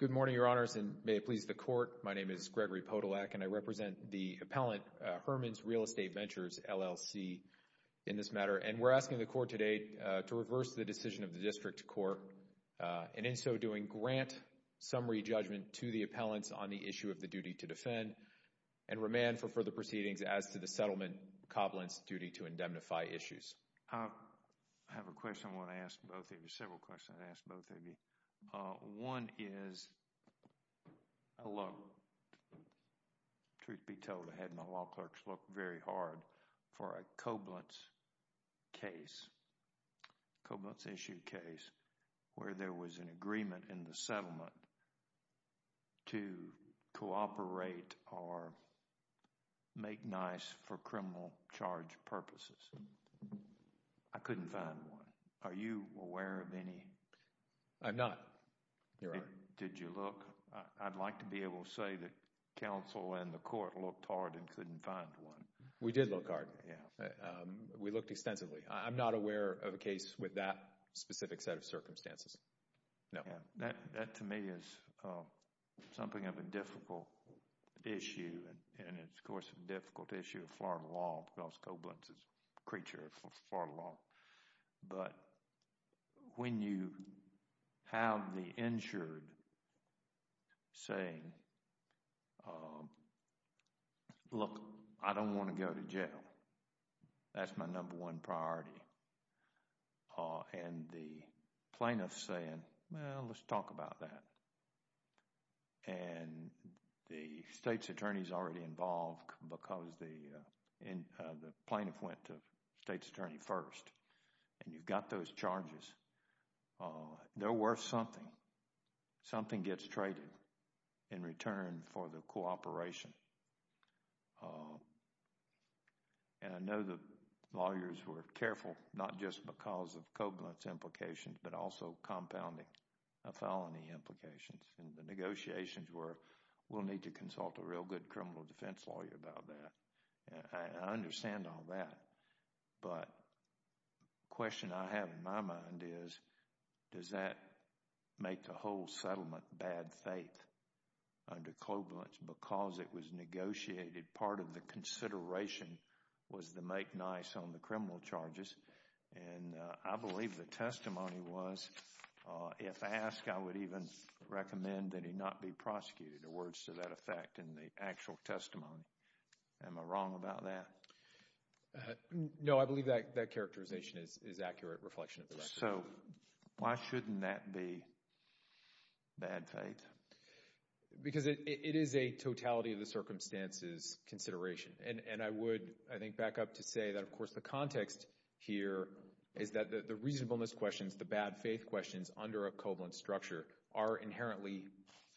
Good morning, Your Honors, and may it please the Court, my name is Gregory Podolak and I represent the appellant, Herman's Real Estate Ventures, LLC, in this matter, and we're asking the Court today to reverse the decision of the District Court, and in so doing, grant summary judgment to the appellants on the issue of the duty to defend and remand for further proceedings as to the settlement, Copland's duty to indemnify issues. I have a question I want to ask both of you, several questions I want to ask both of you. One is, truth be told, I had my law clerks look very hard for a Copland's case, Copland's issue case, where there was an agreement in the settlement to cooperate or make nice for criminal charge purposes. I couldn't find one. Are you aware of any? I'm not, Your Honor. Did you look? I'd like to be able to say that counsel and the Court looked hard and couldn't find one. We did look hard. Yeah. We looked extensively. I'm not aware of a case with that specific set of circumstances, no. That to me is something of a difficult issue, and it's, of course, a difficult issue of have the insured saying, look, I don't want to go to jail. That's my number one priority, and the plaintiff's saying, well, let's talk about that. The state's attorney's already involved because the plaintiff went to the state's attorney first, and you've got those charges. They're worth something. Something gets traded in return for the cooperation, and I know the lawyers were careful, not just because of Copland's implications, but also compounding felony implications, and the negotiations were we'll need to consult a real good criminal defense lawyer about that. I understand all that, but the question I have in my mind is does that make the whole settlement bad faith under Copland's because it was negotiated? Part of the consideration was to make nice on the criminal charges, and I believe the testimony was if asked, I would even recommend that he not be prosecuted. The words to that effect in the actual testimony, am I wrong about that? No, I believe that characterization is accurate reflection of the record. So, why shouldn't that be bad faith? Because it is a totality of the circumstances consideration, and I would, I think, back up to say that, of course, the context here is that the reasonableness questions, the are inherently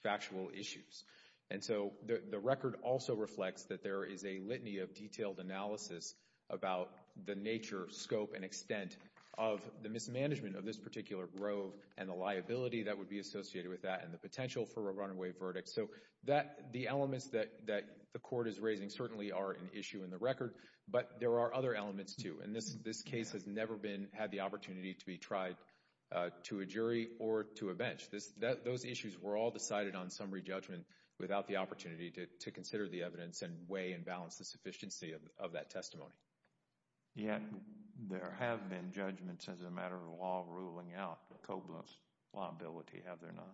factual issues, and so the record also reflects that there is a litany of detailed analysis about the nature, scope, and extent of the mismanagement of this particular grove and the liability that would be associated with that and the potential for a runaway verdict. So, that, the elements that the court is raising certainly are an issue in the record, but there are other elements, too, and this case has never been, had the opportunity to be jury or to a bench. Those issues were all decided on summary judgment without the opportunity to consider the evidence and weigh and balance the sufficiency of that testimony. Yet, there have been judgments as a matter of law ruling out Koblentz's liability, have there not?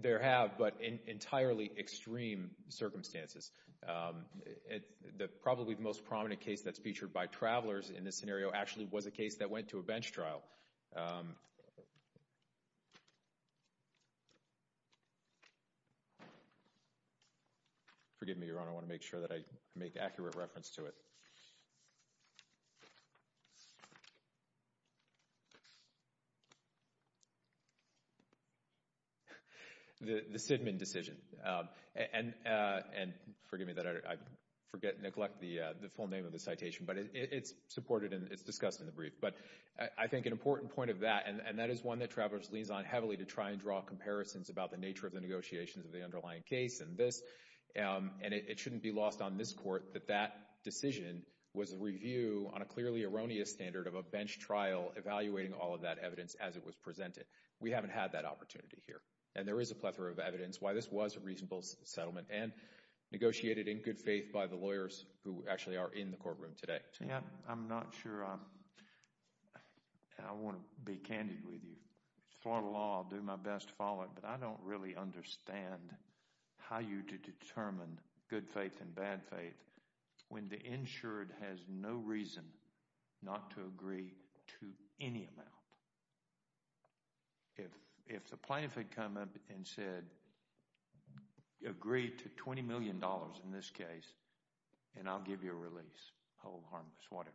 There have, but in entirely extreme circumstances. The probably most prominent case that's featured by travelers in this scenario actually was a case that went to a bench trial. Forgive me, Your Honor, I want to make sure that I make accurate reference to it. The Sidman decision, and forgive me that I forget, neglect the full name of the citation, but it's supported and it's discussed in the brief, but I think an important point of that, and that is one that travelers leans on heavily to try and draw comparisons about the nature of the negotiations of the underlying case and this, and it shouldn't be lost on this court that that decision was a review on a clearly erroneous standard of a bench trial evaluating all of that evidence as it was presented. We haven't had that opportunity here, and there is a plethora of evidence why this was a reasonable settlement and negotiated in good faith by the lawyers who actually are in the courtroom today. Yeah, I'm not sure I want to be candid with you. Florida law, I'll do my best to follow it, but I don't really understand how you to determine good faith and bad faith when the insured has no reason not to agree to any amount. If the plaintiff had come up and said, agree to $20 million in this case, and I'll give you a release, hold harmless, whatever,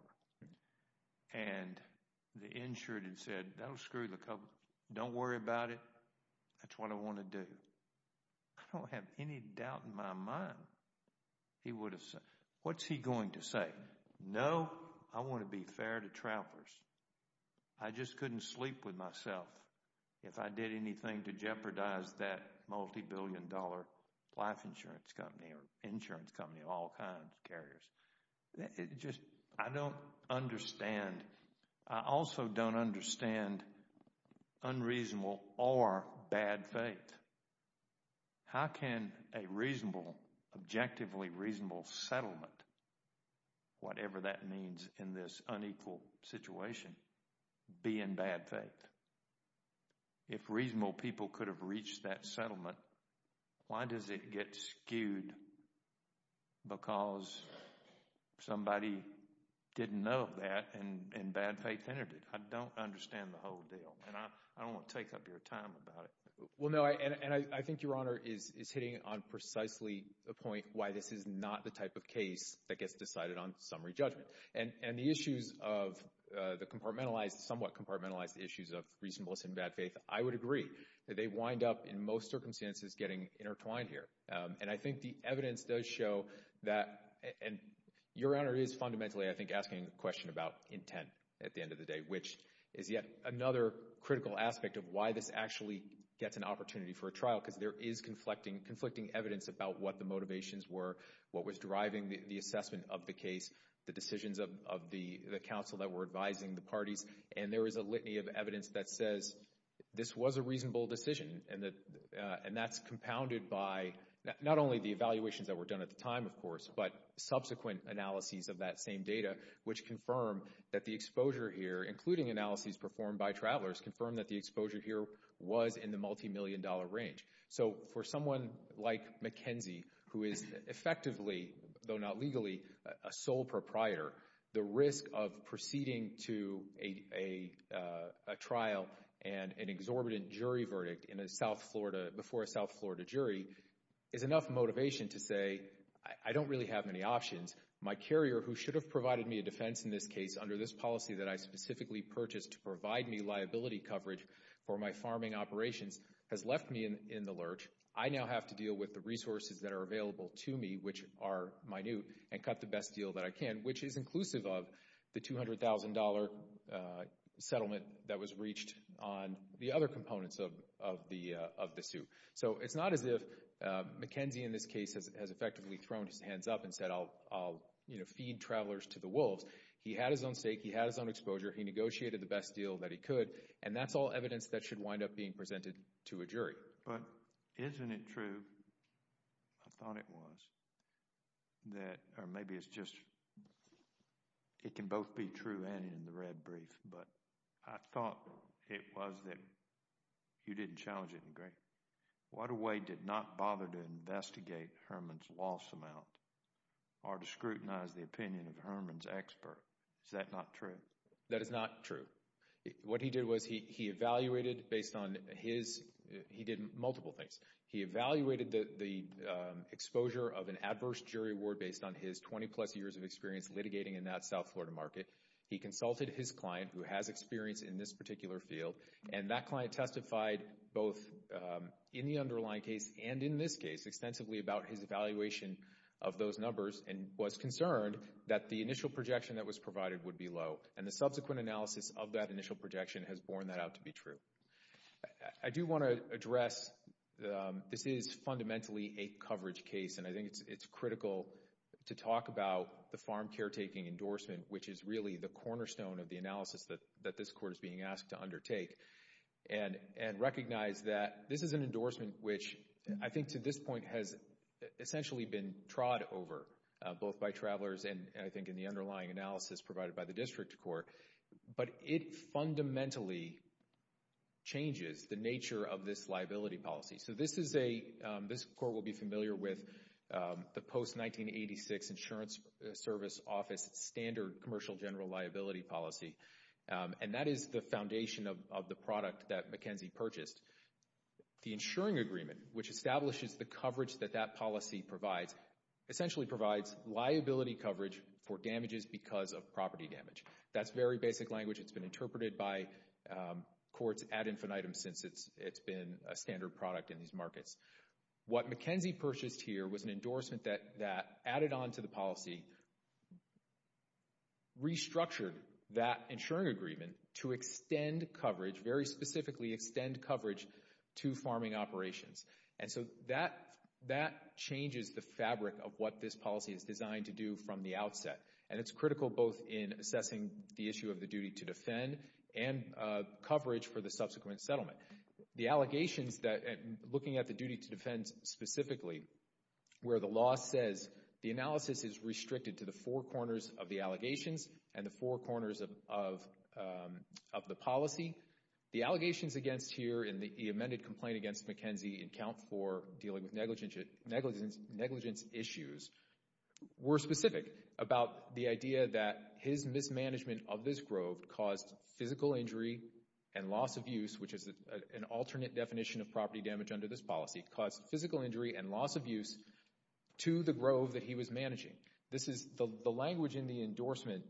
and the insured had said, that'll screw the couple, don't worry about it, that's what I want to do, I don't have any doubt in my mind he would have said, what's he going to say? No, I want to be fair to travelers. I just couldn't sleep with myself if I did anything to jeopardize that multi-billion dollar life insurance company or insurance company of all kinds, carriers. I don't understand, I also don't understand unreasonable or bad faith. How can a reasonable, objectively reasonable settlement, whatever that means in this unequal situation, be in bad faith? And if reasonable people could have reached that settlement, why does it get skewed because somebody didn't know that and bad faith entered it? I don't understand the whole deal, and I don't want to take up your time about it. Well no, and I think Your Honor is hitting on precisely the point why this is not the type of case that gets decided on summary judgment. And the issues of the compartmentalized, somewhat compartmentalized issues of reasonableness and bad faith, I would agree that they wind up in most circumstances getting intertwined here. And I think the evidence does show that, and Your Honor is fundamentally I think asking a question about intent at the end of the day, which is yet another critical aspect of why this actually gets an opportunity for a trial, because there is conflicting evidence about what the motivations were, what was driving the assessment of the case, the decisions of the counsel that were advising the parties. And there is a litany of evidence that says this was a reasonable decision, and that's compounded by not only the evaluations that were done at the time, of course, but subsequent analyses of that same data, which confirm that the exposure here, including analyses performed by travelers, confirm that the exposure here was in the multimillion dollar range. So for someone like McKenzie, who is effectively, though not legally, a sole proprietor, the risk of proceeding to a trial and an exorbitant jury verdict in a South Florida, before a South Florida jury, is enough motivation to say, I don't really have any options. My carrier, who should have provided me a defense in this case under this policy that I specifically purchased to provide me liability coverage for my farming operations, has left me in the lurch. I now have to deal with the resources that are available to me, which are minute, and cut the best deal that I can, which is inclusive of the $200,000 settlement that was reached on the other components of the suit. So it's not as if McKenzie, in this case, has effectively thrown his hands up and said, I'll, you know, feed travelers to the wolves. He had his own stake. He had his own exposure. He negotiated the best deal that he could. And that's all evidence that should wind up being presented to a jury. But isn't it true, I thought it was, that, or maybe it's just, it can both be true and in the red brief, but I thought it was that you didn't challenge it in a great, Wadaway did not bother to investigate Herman's loss amount or to scrutinize the opinion of Herman's expert. Is that not true? That is not true. What he did was he evaluated based on his, he did multiple things. He evaluated the exposure of an adverse jury award based on his 20 plus years of experience litigating in that South Florida market. He consulted his client, who has experience in this particular field, and that client testified both in the underlying case and in this case extensively about his evaluation of those numbers and was concerned that the initial projection that was provided would be low. And the subsequent analysis of that initial projection has borne that out to be true. I do want to address, this is fundamentally a coverage case, and I think it's critical to talk about the farm caretaking endorsement, which is really the cornerstone of the analysis that this court is being asked to undertake and recognize that this is an endorsement which I think to this point has essentially been trod over both by travelers and I think in the underlying analysis provided by the district court. But it fundamentally changes the nature of this liability policy. So this is a, this court will be familiar with the post-1986 insurance service office standard commercial general liability policy. And that is the foundation of the product that McKenzie purchased. The insuring agreement, which establishes the coverage that that policy provides, essentially provides liability coverage for damages because of property damage. That's very basic language, it's been interpreted by courts ad infinitum since it's been a standard product in these markets. What McKenzie purchased here was an endorsement that added onto the policy, restructured that insuring agreement to extend coverage, very specifically extend coverage to farming operations. And so that changes the fabric of what this policy is designed to do from the outset. And it's critical both in assessing the issue of the duty to defend and coverage for the subsequent settlement. The allegations that, looking at the duty to defend specifically, where the law says the analysis is restricted to the four corners of the allegations and the four corners of the policy. The allegations against here in the amended complaint against McKenzie in count four dealing with negligence issues were specific about the idea that his mismanagement of this grove caused physical injury and loss of use, which is an alternate definition of property damage under this policy, caused physical injury and loss of use to the grove that he was managing. This is, the language in the endorsement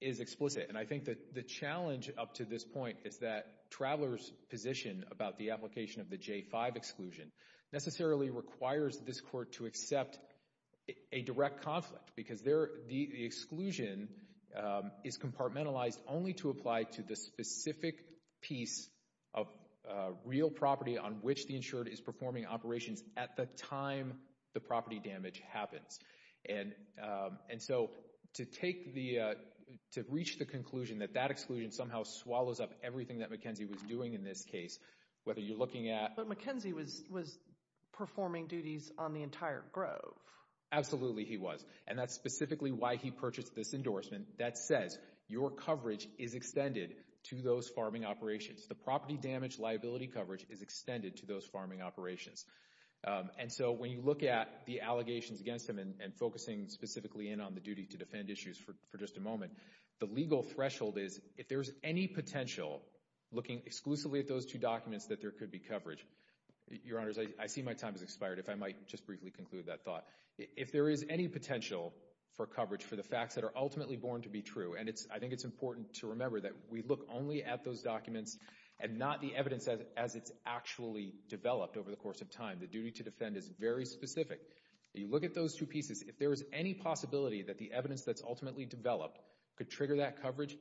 is explicit. And I think that the challenge up to this point is that Traveler's position about the application of the J-5 exclusion necessarily requires this court to accept a direct conflict because the exclusion is compartmentalized only to apply to the specific piece of real property on which the insured is performing operations at the time the property damage happens. And so to take the, to reach the conclusion that that exclusion somehow swallows up everything that McKenzie was doing in this case, whether you're looking at... But McKenzie was performing duties on the entire grove. Absolutely he was. And that's specifically why he purchased this endorsement that says your coverage is extended to those farming operations. The property damage liability coverage is extended to those farming operations. And so when you look at the allegations against him and focusing specifically in on the duty to defend issues for just a moment, the legal threshold is if there's any potential, looking exclusively at those two documents, that there could be coverage. Your Honors, I see my time has expired, if I might just briefly conclude that thought. If there is any potential for coverage for the facts that are ultimately born to be true, and I think it's important to remember that we look only at those documents and not the time. The duty to defend is very specific. If you look at those two pieces, if there is any possibility that the evidence that's ultimately developed could trigger that coverage,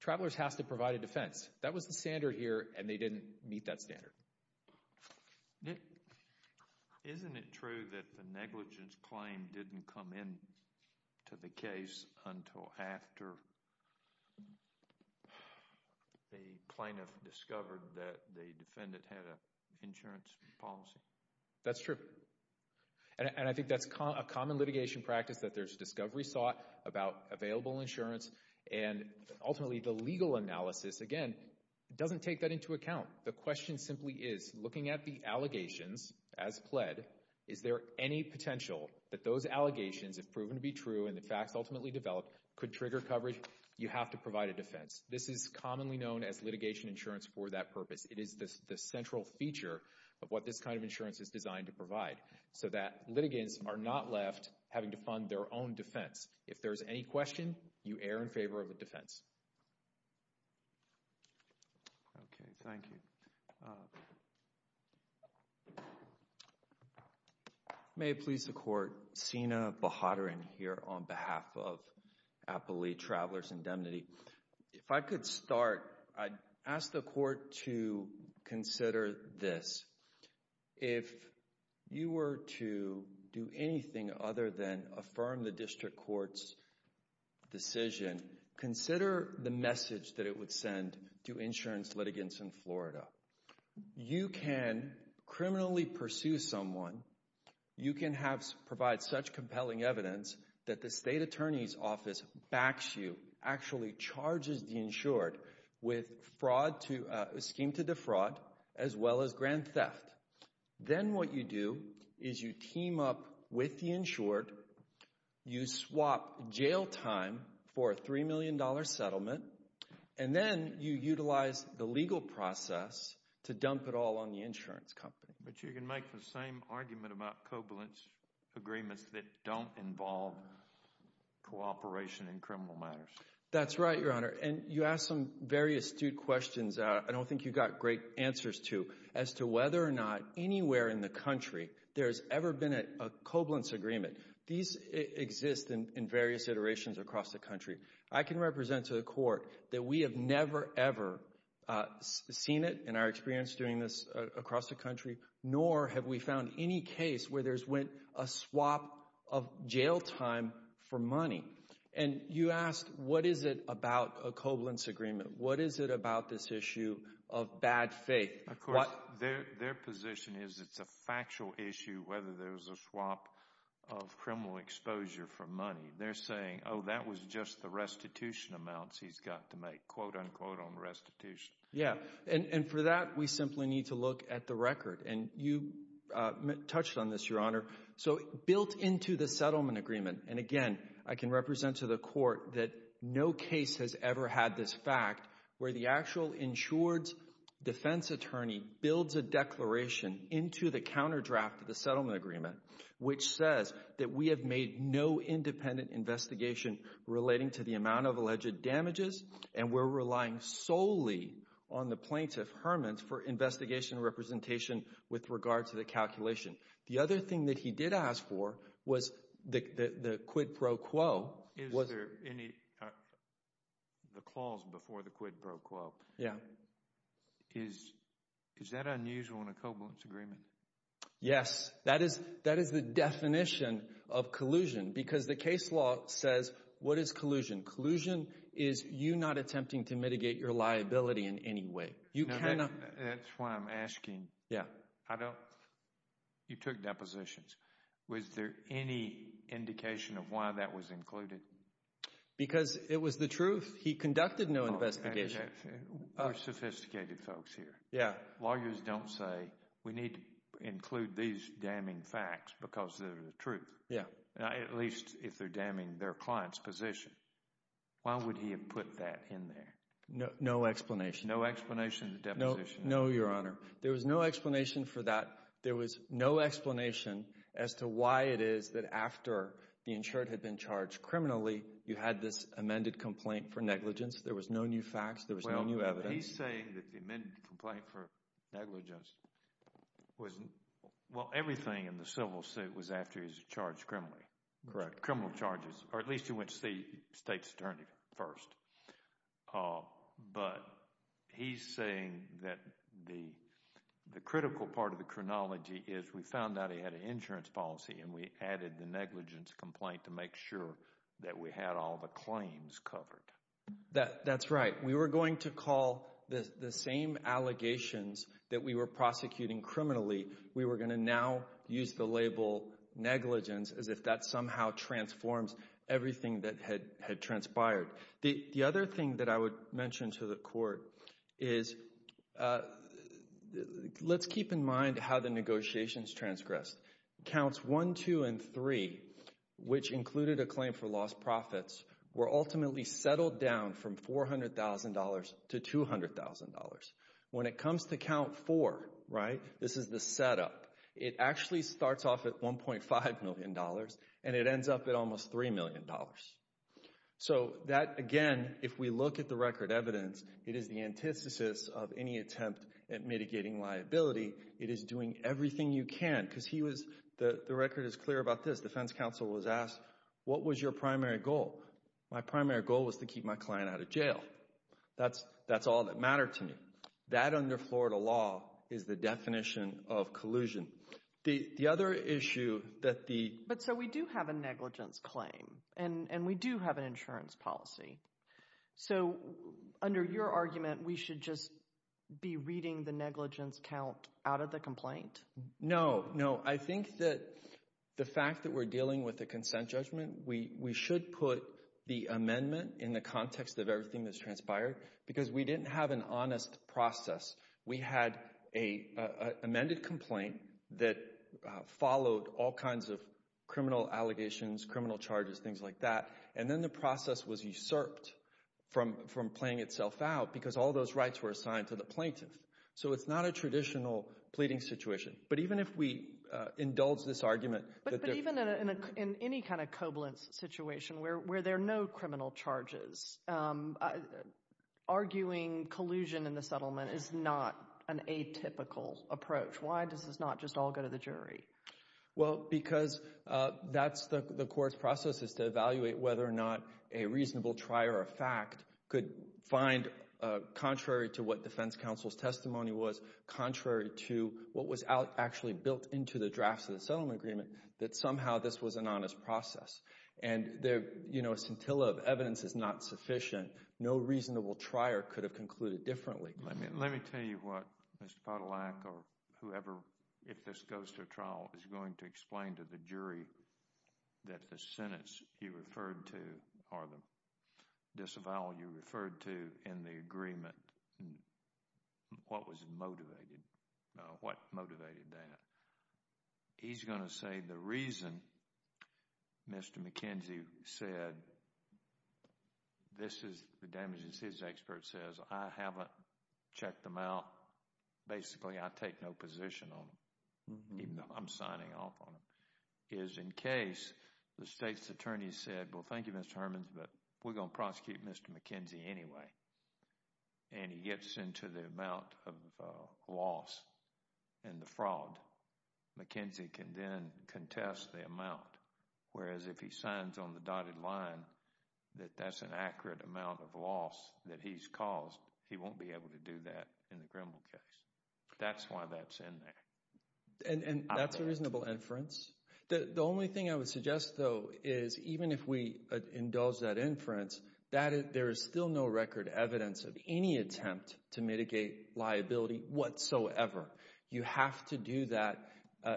Travelers has to provide a defense. That was the standard here and they didn't meet that standard. Isn't it true that the negligence claim didn't come into the case until after the plaintiff discovered that the defendant had an insurance policy? That's true. And I think that's a common litigation practice that there's discovery sought about available insurance and ultimately the legal analysis, again, doesn't take that into account. The question simply is, looking at the allegations as pled, is there any potential that those allegations have proven to be true and the facts ultimately developed could trigger coverage? You have to provide a defense. This is commonly known as litigation insurance for that purpose. It is the central feature of what this kind of insurance is designed to provide so that litigants are not left having to fund their own defense. If there's any question, you err in favor of the defense. Okay, thank you. May it please the court, Sina Bahadurin here on behalf of Applee Travelers Indemnity. If I could start, I'd ask the court to consider this, if you were to do anything other than affirm the district court's decision, consider the message that it would send to insurance litigants in Florida. You can criminally pursue someone, you can provide such compelling evidence that the state attorney's office backs you, actually charges the insured with a scheme to defraud as well as grand theft. Then what you do is you team up with the insured, you swap jail time for a $3 million settlement, and then you utilize the legal process to dump it all on the insurance company. But you can make the same argument about covalence agreements that don't involve cooperation in criminal matters. That's right, Your Honor, and you asked some very astute questions I don't think you got great answers to as to whether or not anywhere in the country there's ever been a covalence agreement. These exist in various iterations across the country. I can represent to the court that we have never, ever seen it in our experience doing this across the country, nor have we found any case where there's been a swap of jail time for money. You asked, what is it about a covalence agreement? What is it about this issue of bad faith? Of course, their position is it's a factual issue whether there's a swap of criminal exposure for money. They're saying, oh, that was just the restitution amounts he's got to make, quote, unquote, on restitution. Yeah, and for that, we simply need to look at the record, and you touched on this, Your Honor. So, built into the settlement agreement, and again, I can represent to the court that no case has ever had this fact where the actual insured's defense attorney builds a declaration into the counter-draft of the settlement agreement, which says that we have made no independent investigation relating to the amount of alleged damages, and we're relying solely on the plaintiff, Herman, for investigation representation with regard to the calculation. The other thing that he did ask for was the quid pro quo. Is there any, the clause before the quid pro quo, is that unusual in a covalence agreement? Yes. That is the definition of collusion, because the case law says, what is collusion? Collusion is you not attempting to mitigate your liability in any way. You cannot- That's why I'm asking. Yeah. I don't, you took depositions. Was there any indication of why that was included? Because it was the truth. He conducted no investigation. We're sophisticated folks here. Yeah. Lawyers don't say, we need to include these damning facts because they're the truth. Yeah. At least if they're damning their client's position. Why would he have put that in there? No explanation. No explanation to deposition? No, Your Honor. There was no explanation for that. There was no explanation as to why it is that after the insured had been charged criminally, you had this amended complaint for negligence. There was no new facts. There was no new evidence. He's saying that the amended complaint for negligence was, well, everything in the civil suit was after he was charged criminally. Correct. Criminal charges, or at least he went to the state's attorney first. But he's saying that the critical part of the chronology is we found out he had an insurance policy and we added the negligence complaint to make sure that we had all the claims covered. That's right. We were going to call the same allegations that we were prosecuting criminally, we were going to now use the label negligence as if that somehow transforms everything that had transpired. The other thing that I would mention to the Court is, let's keep in mind how the negotiations transgressed. Counts 1, 2, and 3, which included a claim for lost profits, were ultimately settled down from $400,000 to $200,000. When it comes to count 4, right, this is the setup. It actually starts off at $1.5 million and it ends up at almost $3 million. So that, again, if we look at the record evidence, it is the antithesis of any attempt at mitigating liability. It is doing everything you can because he was, the record is clear about this, defense counsel was asked, what was your primary goal? My primary goal was to keep my client out of jail. That's all that mattered to me. That under Florida law is the definition of collusion. The other issue that the... But so we do have a negligence claim and we do have an insurance policy. So under your argument, we should just be reading the negligence count out of the complaint? No, no. I think that the fact that we're dealing with the consent judgment, we should put the amendment in the context of everything that's transpired because we didn't have an honest process. We had a amended complaint that followed all kinds of criminal allegations, criminal charges, things like that. And then the process was usurped from playing itself out because all those rights were assigned to the plaintiff. So it's not a traditional pleading situation. But even if we indulge this argument... But even in any kind of covalent situation where there are no criminal charges, arguing collusion in the settlement is not an atypical approach. Why does this not just all go to the jury? Well because that's the court's process, is to evaluate whether or not a reasonable try or a fact could find, contrary to what defense counsel's testimony was, contrary to what was actually built into the drafts of the settlement agreement, that somehow this was an honest process. And there, you know, scintilla of evidence is not sufficient. No reasonable trier could have concluded differently. Let me tell you what Mr. Podolak or whoever, if this goes to a trial, is going to explain to the jury that the sentence you referred to or the disavowal you referred to in the agreement, what was motivated. What motivated that? He's going to say the reason Mr. McKenzie said, this is the damages his expert says, I haven't checked them out, basically I take no position on them, even though I'm signing off on them, is in case the state's attorney said, well thank you Mr. Hermans, but we're going to prosecute Mr. McKenzie anyway. And he gets into the amount of loss and the fraud. McKenzie can then contest the amount, whereas if he signs on the dotted line that that's an accurate amount of loss that he's caused, he won't be able to do that in the Grimble case. That's why that's in there. And that's a reasonable inference. The only thing I would suggest though is even if we indulge that inference, there is still no record evidence of any attempt to mitigate liability whatsoever. You have to do that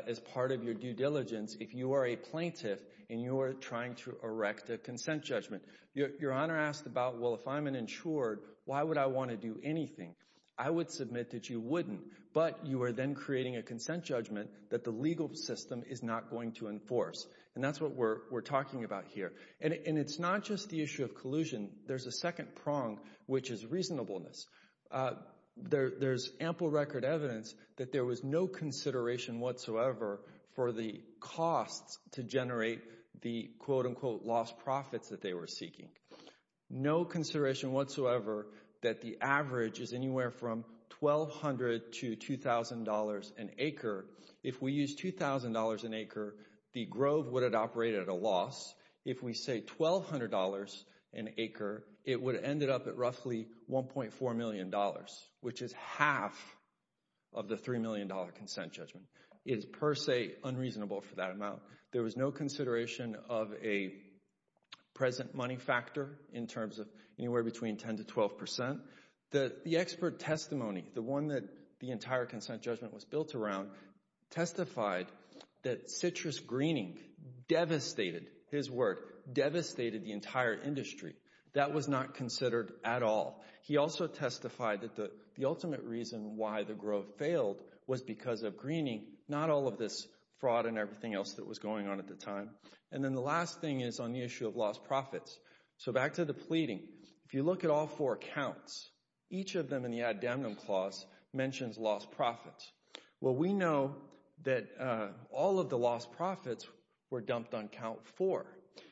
as part of your due diligence if you are a plaintiff and you are trying to erect a consent judgment. Your Honor asked about, well if I'm an insured, why would I want to do anything? I would submit that you wouldn't, but you are then creating a consent judgment that the legal system is not going to enforce. And that's what we're talking about here. And it's not just the issue of collusion. There's a second prong, which is reasonableness. There's ample record evidence that there was no consideration whatsoever for the costs to generate the quote-unquote lost profits that they were seeking. No consideration whatsoever that the average is anywhere from $1,200 to $2,000 an acre. If we use $2,000 an acre, the Grove would have operated at a loss. If we say $1,200 an acre, it would have ended up at roughly $1.4 million, which is half of the $3 million consent judgment. It is per se unreasonable for that amount. There was no consideration of a present money factor in terms of anywhere between 10 to 12%. The expert testimony, the one that the entire consent judgment was built around, testified that citrus greening devastated, his word, devastated the entire industry. That was not considered at all. He also testified that the ultimate reason why the Grove failed was because of greening, not all of this fraud and everything else that was going on at the time. And then the last thing is on the issue of lost profits. So back to the pleading. If you look at all four accounts, each of them in the Ad Damnum Clause mentions lost profits. Well, we know that all of the lost profits were dumped on count four.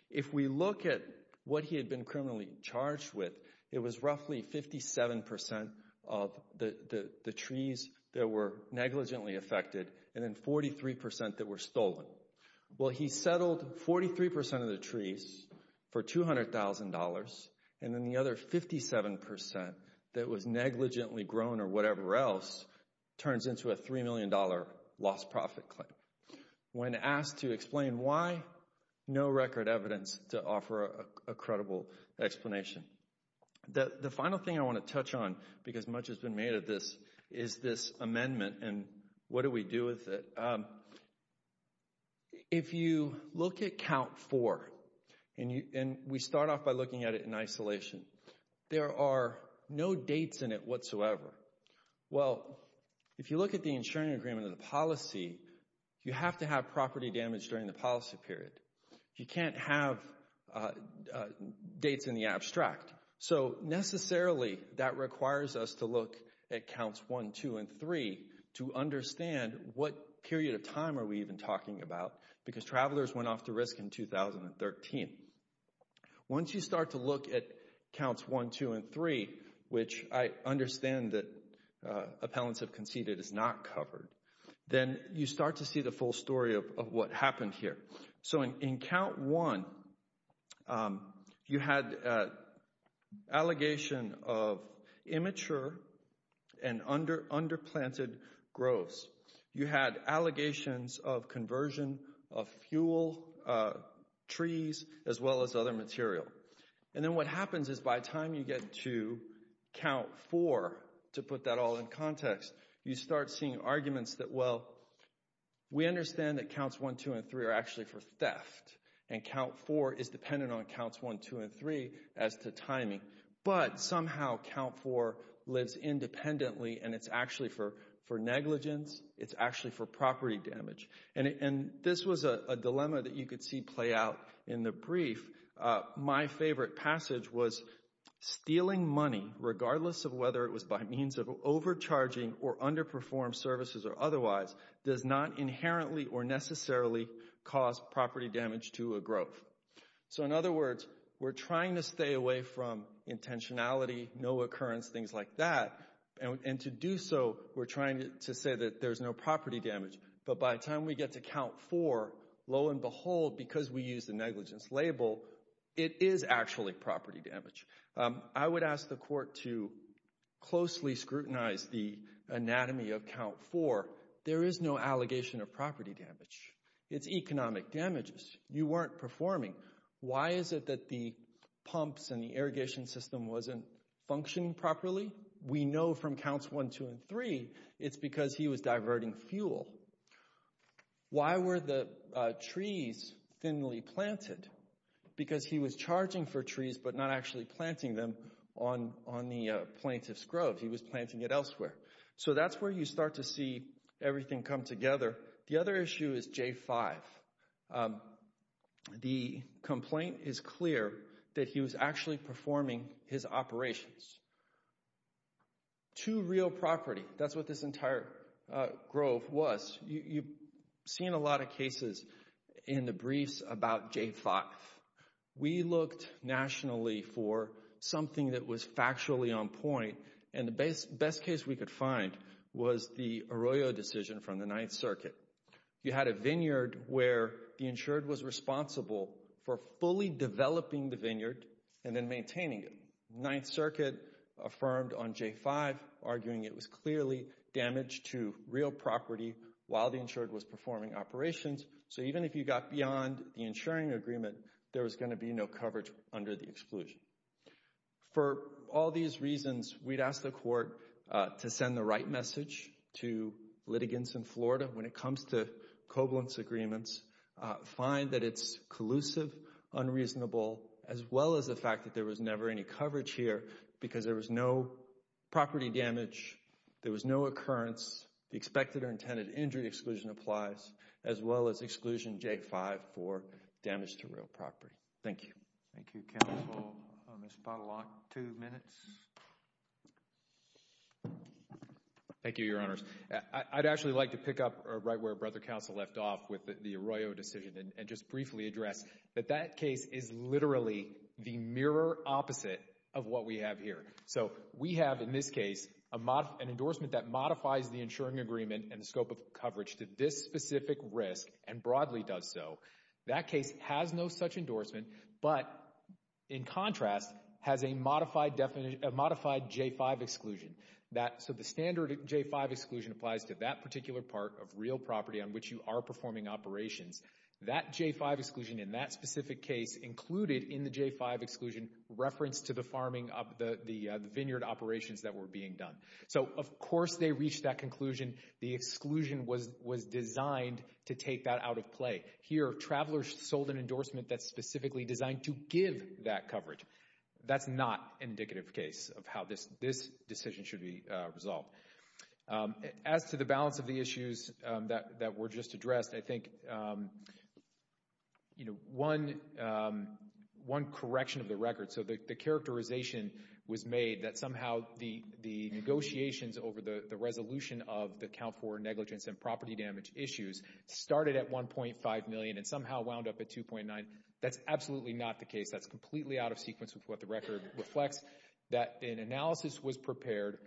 If we look at what he had been criminally charged with, it was roughly 57% of the trees that were negligently affected, and then 43% that were stolen. Well, he settled 43% of the trees for $200,000, and then the other 57% that was negligently grown or whatever else, turns into a $3 million lost profit claim. When asked to explain why, no record evidence to offer a credible explanation. The final thing I want to touch on, because much has been made of this, is this amendment and what do we do with it. If you look at count four, and we start off by looking at it in isolation, there are no dates in it whatsoever. Well, if you look at the insuring agreement of the policy, you have to have property damage during the policy period. You can't have dates in the abstract. So necessarily, that requires us to look at counts one, two, and three to understand what period of time are we even talking about, because travelers went off the risk in 2013. Once you start to look at counts one, two, and three, which I understand that appellants have conceded is not covered, then you start to see the full story of what happened here. So in count one, you had allegation of immature and under-planted groves. You had allegations of conversion of fuel, trees, as well as other material. And then what happens is by the time you get to count four, to put that all in context, you start seeing arguments that, well, we understand that counts one, two, and three are actually for theft, and count four is dependent on counts one, two, and three as to timing. But somehow, count four lives independently, and it's actually for negligence. It's actually for property damage. And this was a dilemma that you could see play out in the brief. My favorite passage was, stealing money, regardless of whether it was by means of overcharging or underperformed services or otherwise, does not inherently or necessarily cause property damage to a grove. So in other words, we're trying to stay away from intentionality, no occurrence, things like that, and to do so, we're trying to say that there's no property damage. But by the time we get to count four, lo and behold, because we use the negligence label, it is actually property damage. I would ask the court to closely scrutinize the anatomy of count four. There is no allegation of property damage. It's economic damages. You weren't performing. Why is it that the pumps and the irrigation system wasn't functioning properly? We know from counts one, two, and three, it's because he was diverting fuel. Why were the trees thinly planted? Because he was charging for trees, but not actually planting them on the plaintiff's grove. He was planting it elsewhere. So that's where you start to see everything come together. The other issue is J-5. The complaint is clear that he was actually performing his operations to real property. That's what this entire grove was. You've seen a lot of cases in the briefs about J-5. We looked nationally for something that was factually on point, and the best case we could find was the Arroyo decision from the Ninth Circuit. You had a vineyard where the insured was responsible for fully developing the vineyard and then maintaining it. The Ninth Circuit affirmed on J-5, arguing it was clearly damage to real property while the insured was performing operations. So even if you got beyond the insuring agreement, there was going to be no coverage under the exclusion. For all these reasons, we'd ask the court to send the right message to litigants in Florida when it comes to Koblentz agreements. Find that it's collusive, unreasonable, as well as the fact that there was never any coverage here because there was no property damage, there was no occurrence, the expected or intended injury exclusion applies, as well as exclusion J-5 for damage to real property. Thank you. Thank you, counsel. Ms. Pottlelock, two minutes. Thank you, your honors. I'd actually like to pick up right where Brother Counsel left off with the Arroyo decision and just briefly address that that case is literally the mirror opposite of what we have here. So we have, in this case, an endorsement that modifies the insuring agreement and the scope of coverage to this specific risk and broadly does so. That case has no such endorsement, but in contrast, has a modified J-5 exclusion. So the standard J-5 exclusion applies to that particular part of real property on which you are performing operations. That J-5 exclusion in that specific case included in the J-5 exclusion reference to the vineyard operations that were being done. So of course they reached that conclusion. The exclusion was designed to take that out of play. Here, Traveler sold an endorsement that's specifically designed to give that coverage. That's not an indicative case of how this decision should be resolved. As to the balance of the issues that were just addressed, I think, you know, one correction of the record. So the characterization was made that somehow the negotiations over the resolution of the and somehow wound up at 2.9. That's absolutely not the case. That's completely out of sequence with what the record reflects. That an analysis was prepared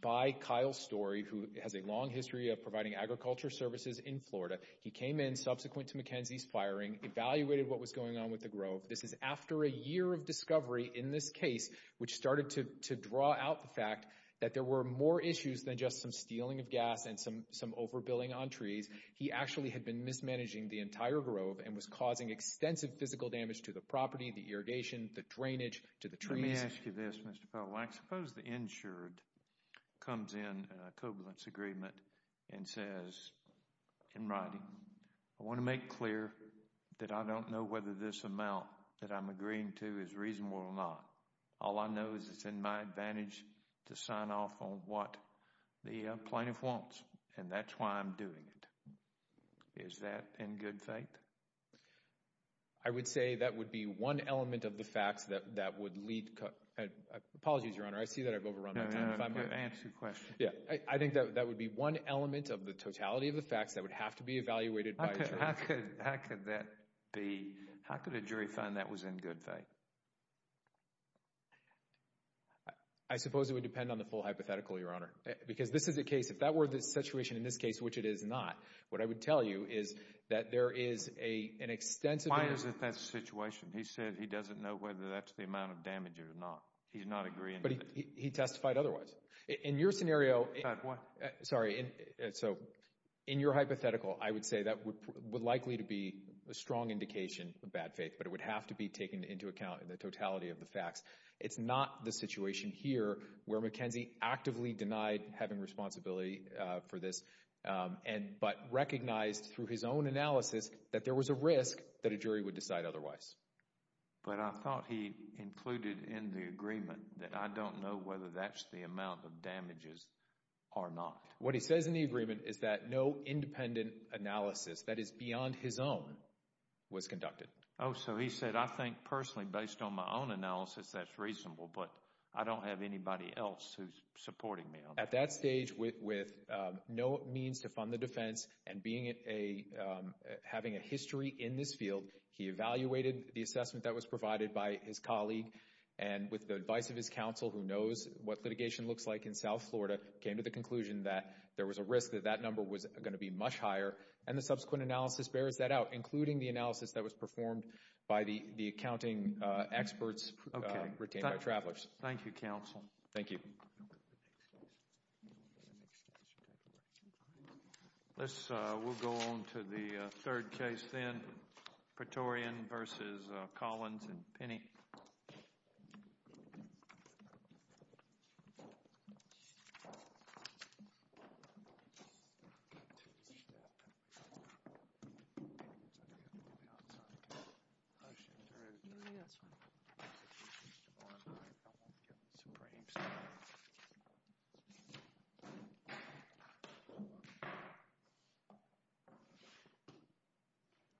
by Kyle Story, who has a long history of providing agriculture services in Florida. He came in subsequent to McKenzie's firing, evaluated what was going on with the grove. This is after a year of discovery in this case, which started to draw out the fact that there were more issues than just some stealing of gas and some overbilling on trees. He actually had been mismanaging the entire grove and was causing extensive physical damage to the property, the irrigation, the drainage, to the trees. Let me ask you this, Mr. Powell. I suppose the insured comes in a covalence agreement and says in writing, I want to make clear that I don't know whether this amount that I'm agreeing to is reasonable or not. All I know is it's in my advantage to sign off on what the plaintiff wants. That's why I'm doing it. Is that in good faith? I would say that would be one element of the facts that would lead. Apologies, Your Honor. I see that I've overrun my time. No, no, no. Answer your question. Yeah, I think that would be one element of the totality of the facts that would have to be evaluated by a jury. How could that be? How could a jury find that was in good faith? I suppose it would depend on the full hypothetical, Your Honor. Because this is a case, if that were the situation in this case, which it is not, what I would tell you is that there is an extensive. Why is it that situation? He said he doesn't know whether that's the amount of damage or not. He's not agreeing. But he testified otherwise. In your scenario, sorry, so in your hypothetical, I would say that would likely to be a strong indication of bad faith, but it would have to be taken into account in the totality of the facts. It's not the situation here where McKenzie actively denied having responsibility for this, but recognized through his own analysis that there was a risk that a jury would decide otherwise. But I thought he included in the agreement that I don't know whether that's the amount of damages or not. What he says in the agreement is that no independent analysis that is beyond his own was conducted. Oh, so he said, I think personally, based on my own analysis, that's reasonable, but I don't have anybody else who's supporting me on that. At that stage, with no means to fund the defense and having a history in this field, he evaluated the assessment that was provided by his colleague and with the advice of his counsel, who knows what litigation looks like in South Florida, came to the conclusion that there was a risk that that number was going to be much higher. And the subsequent analysis bears that out, including the analysis that was performed by the accounting experts retained by Travelers. Thank you, counsel. Thank you. This, we'll go on to the third case then. Praetorian versus Collins and Penny.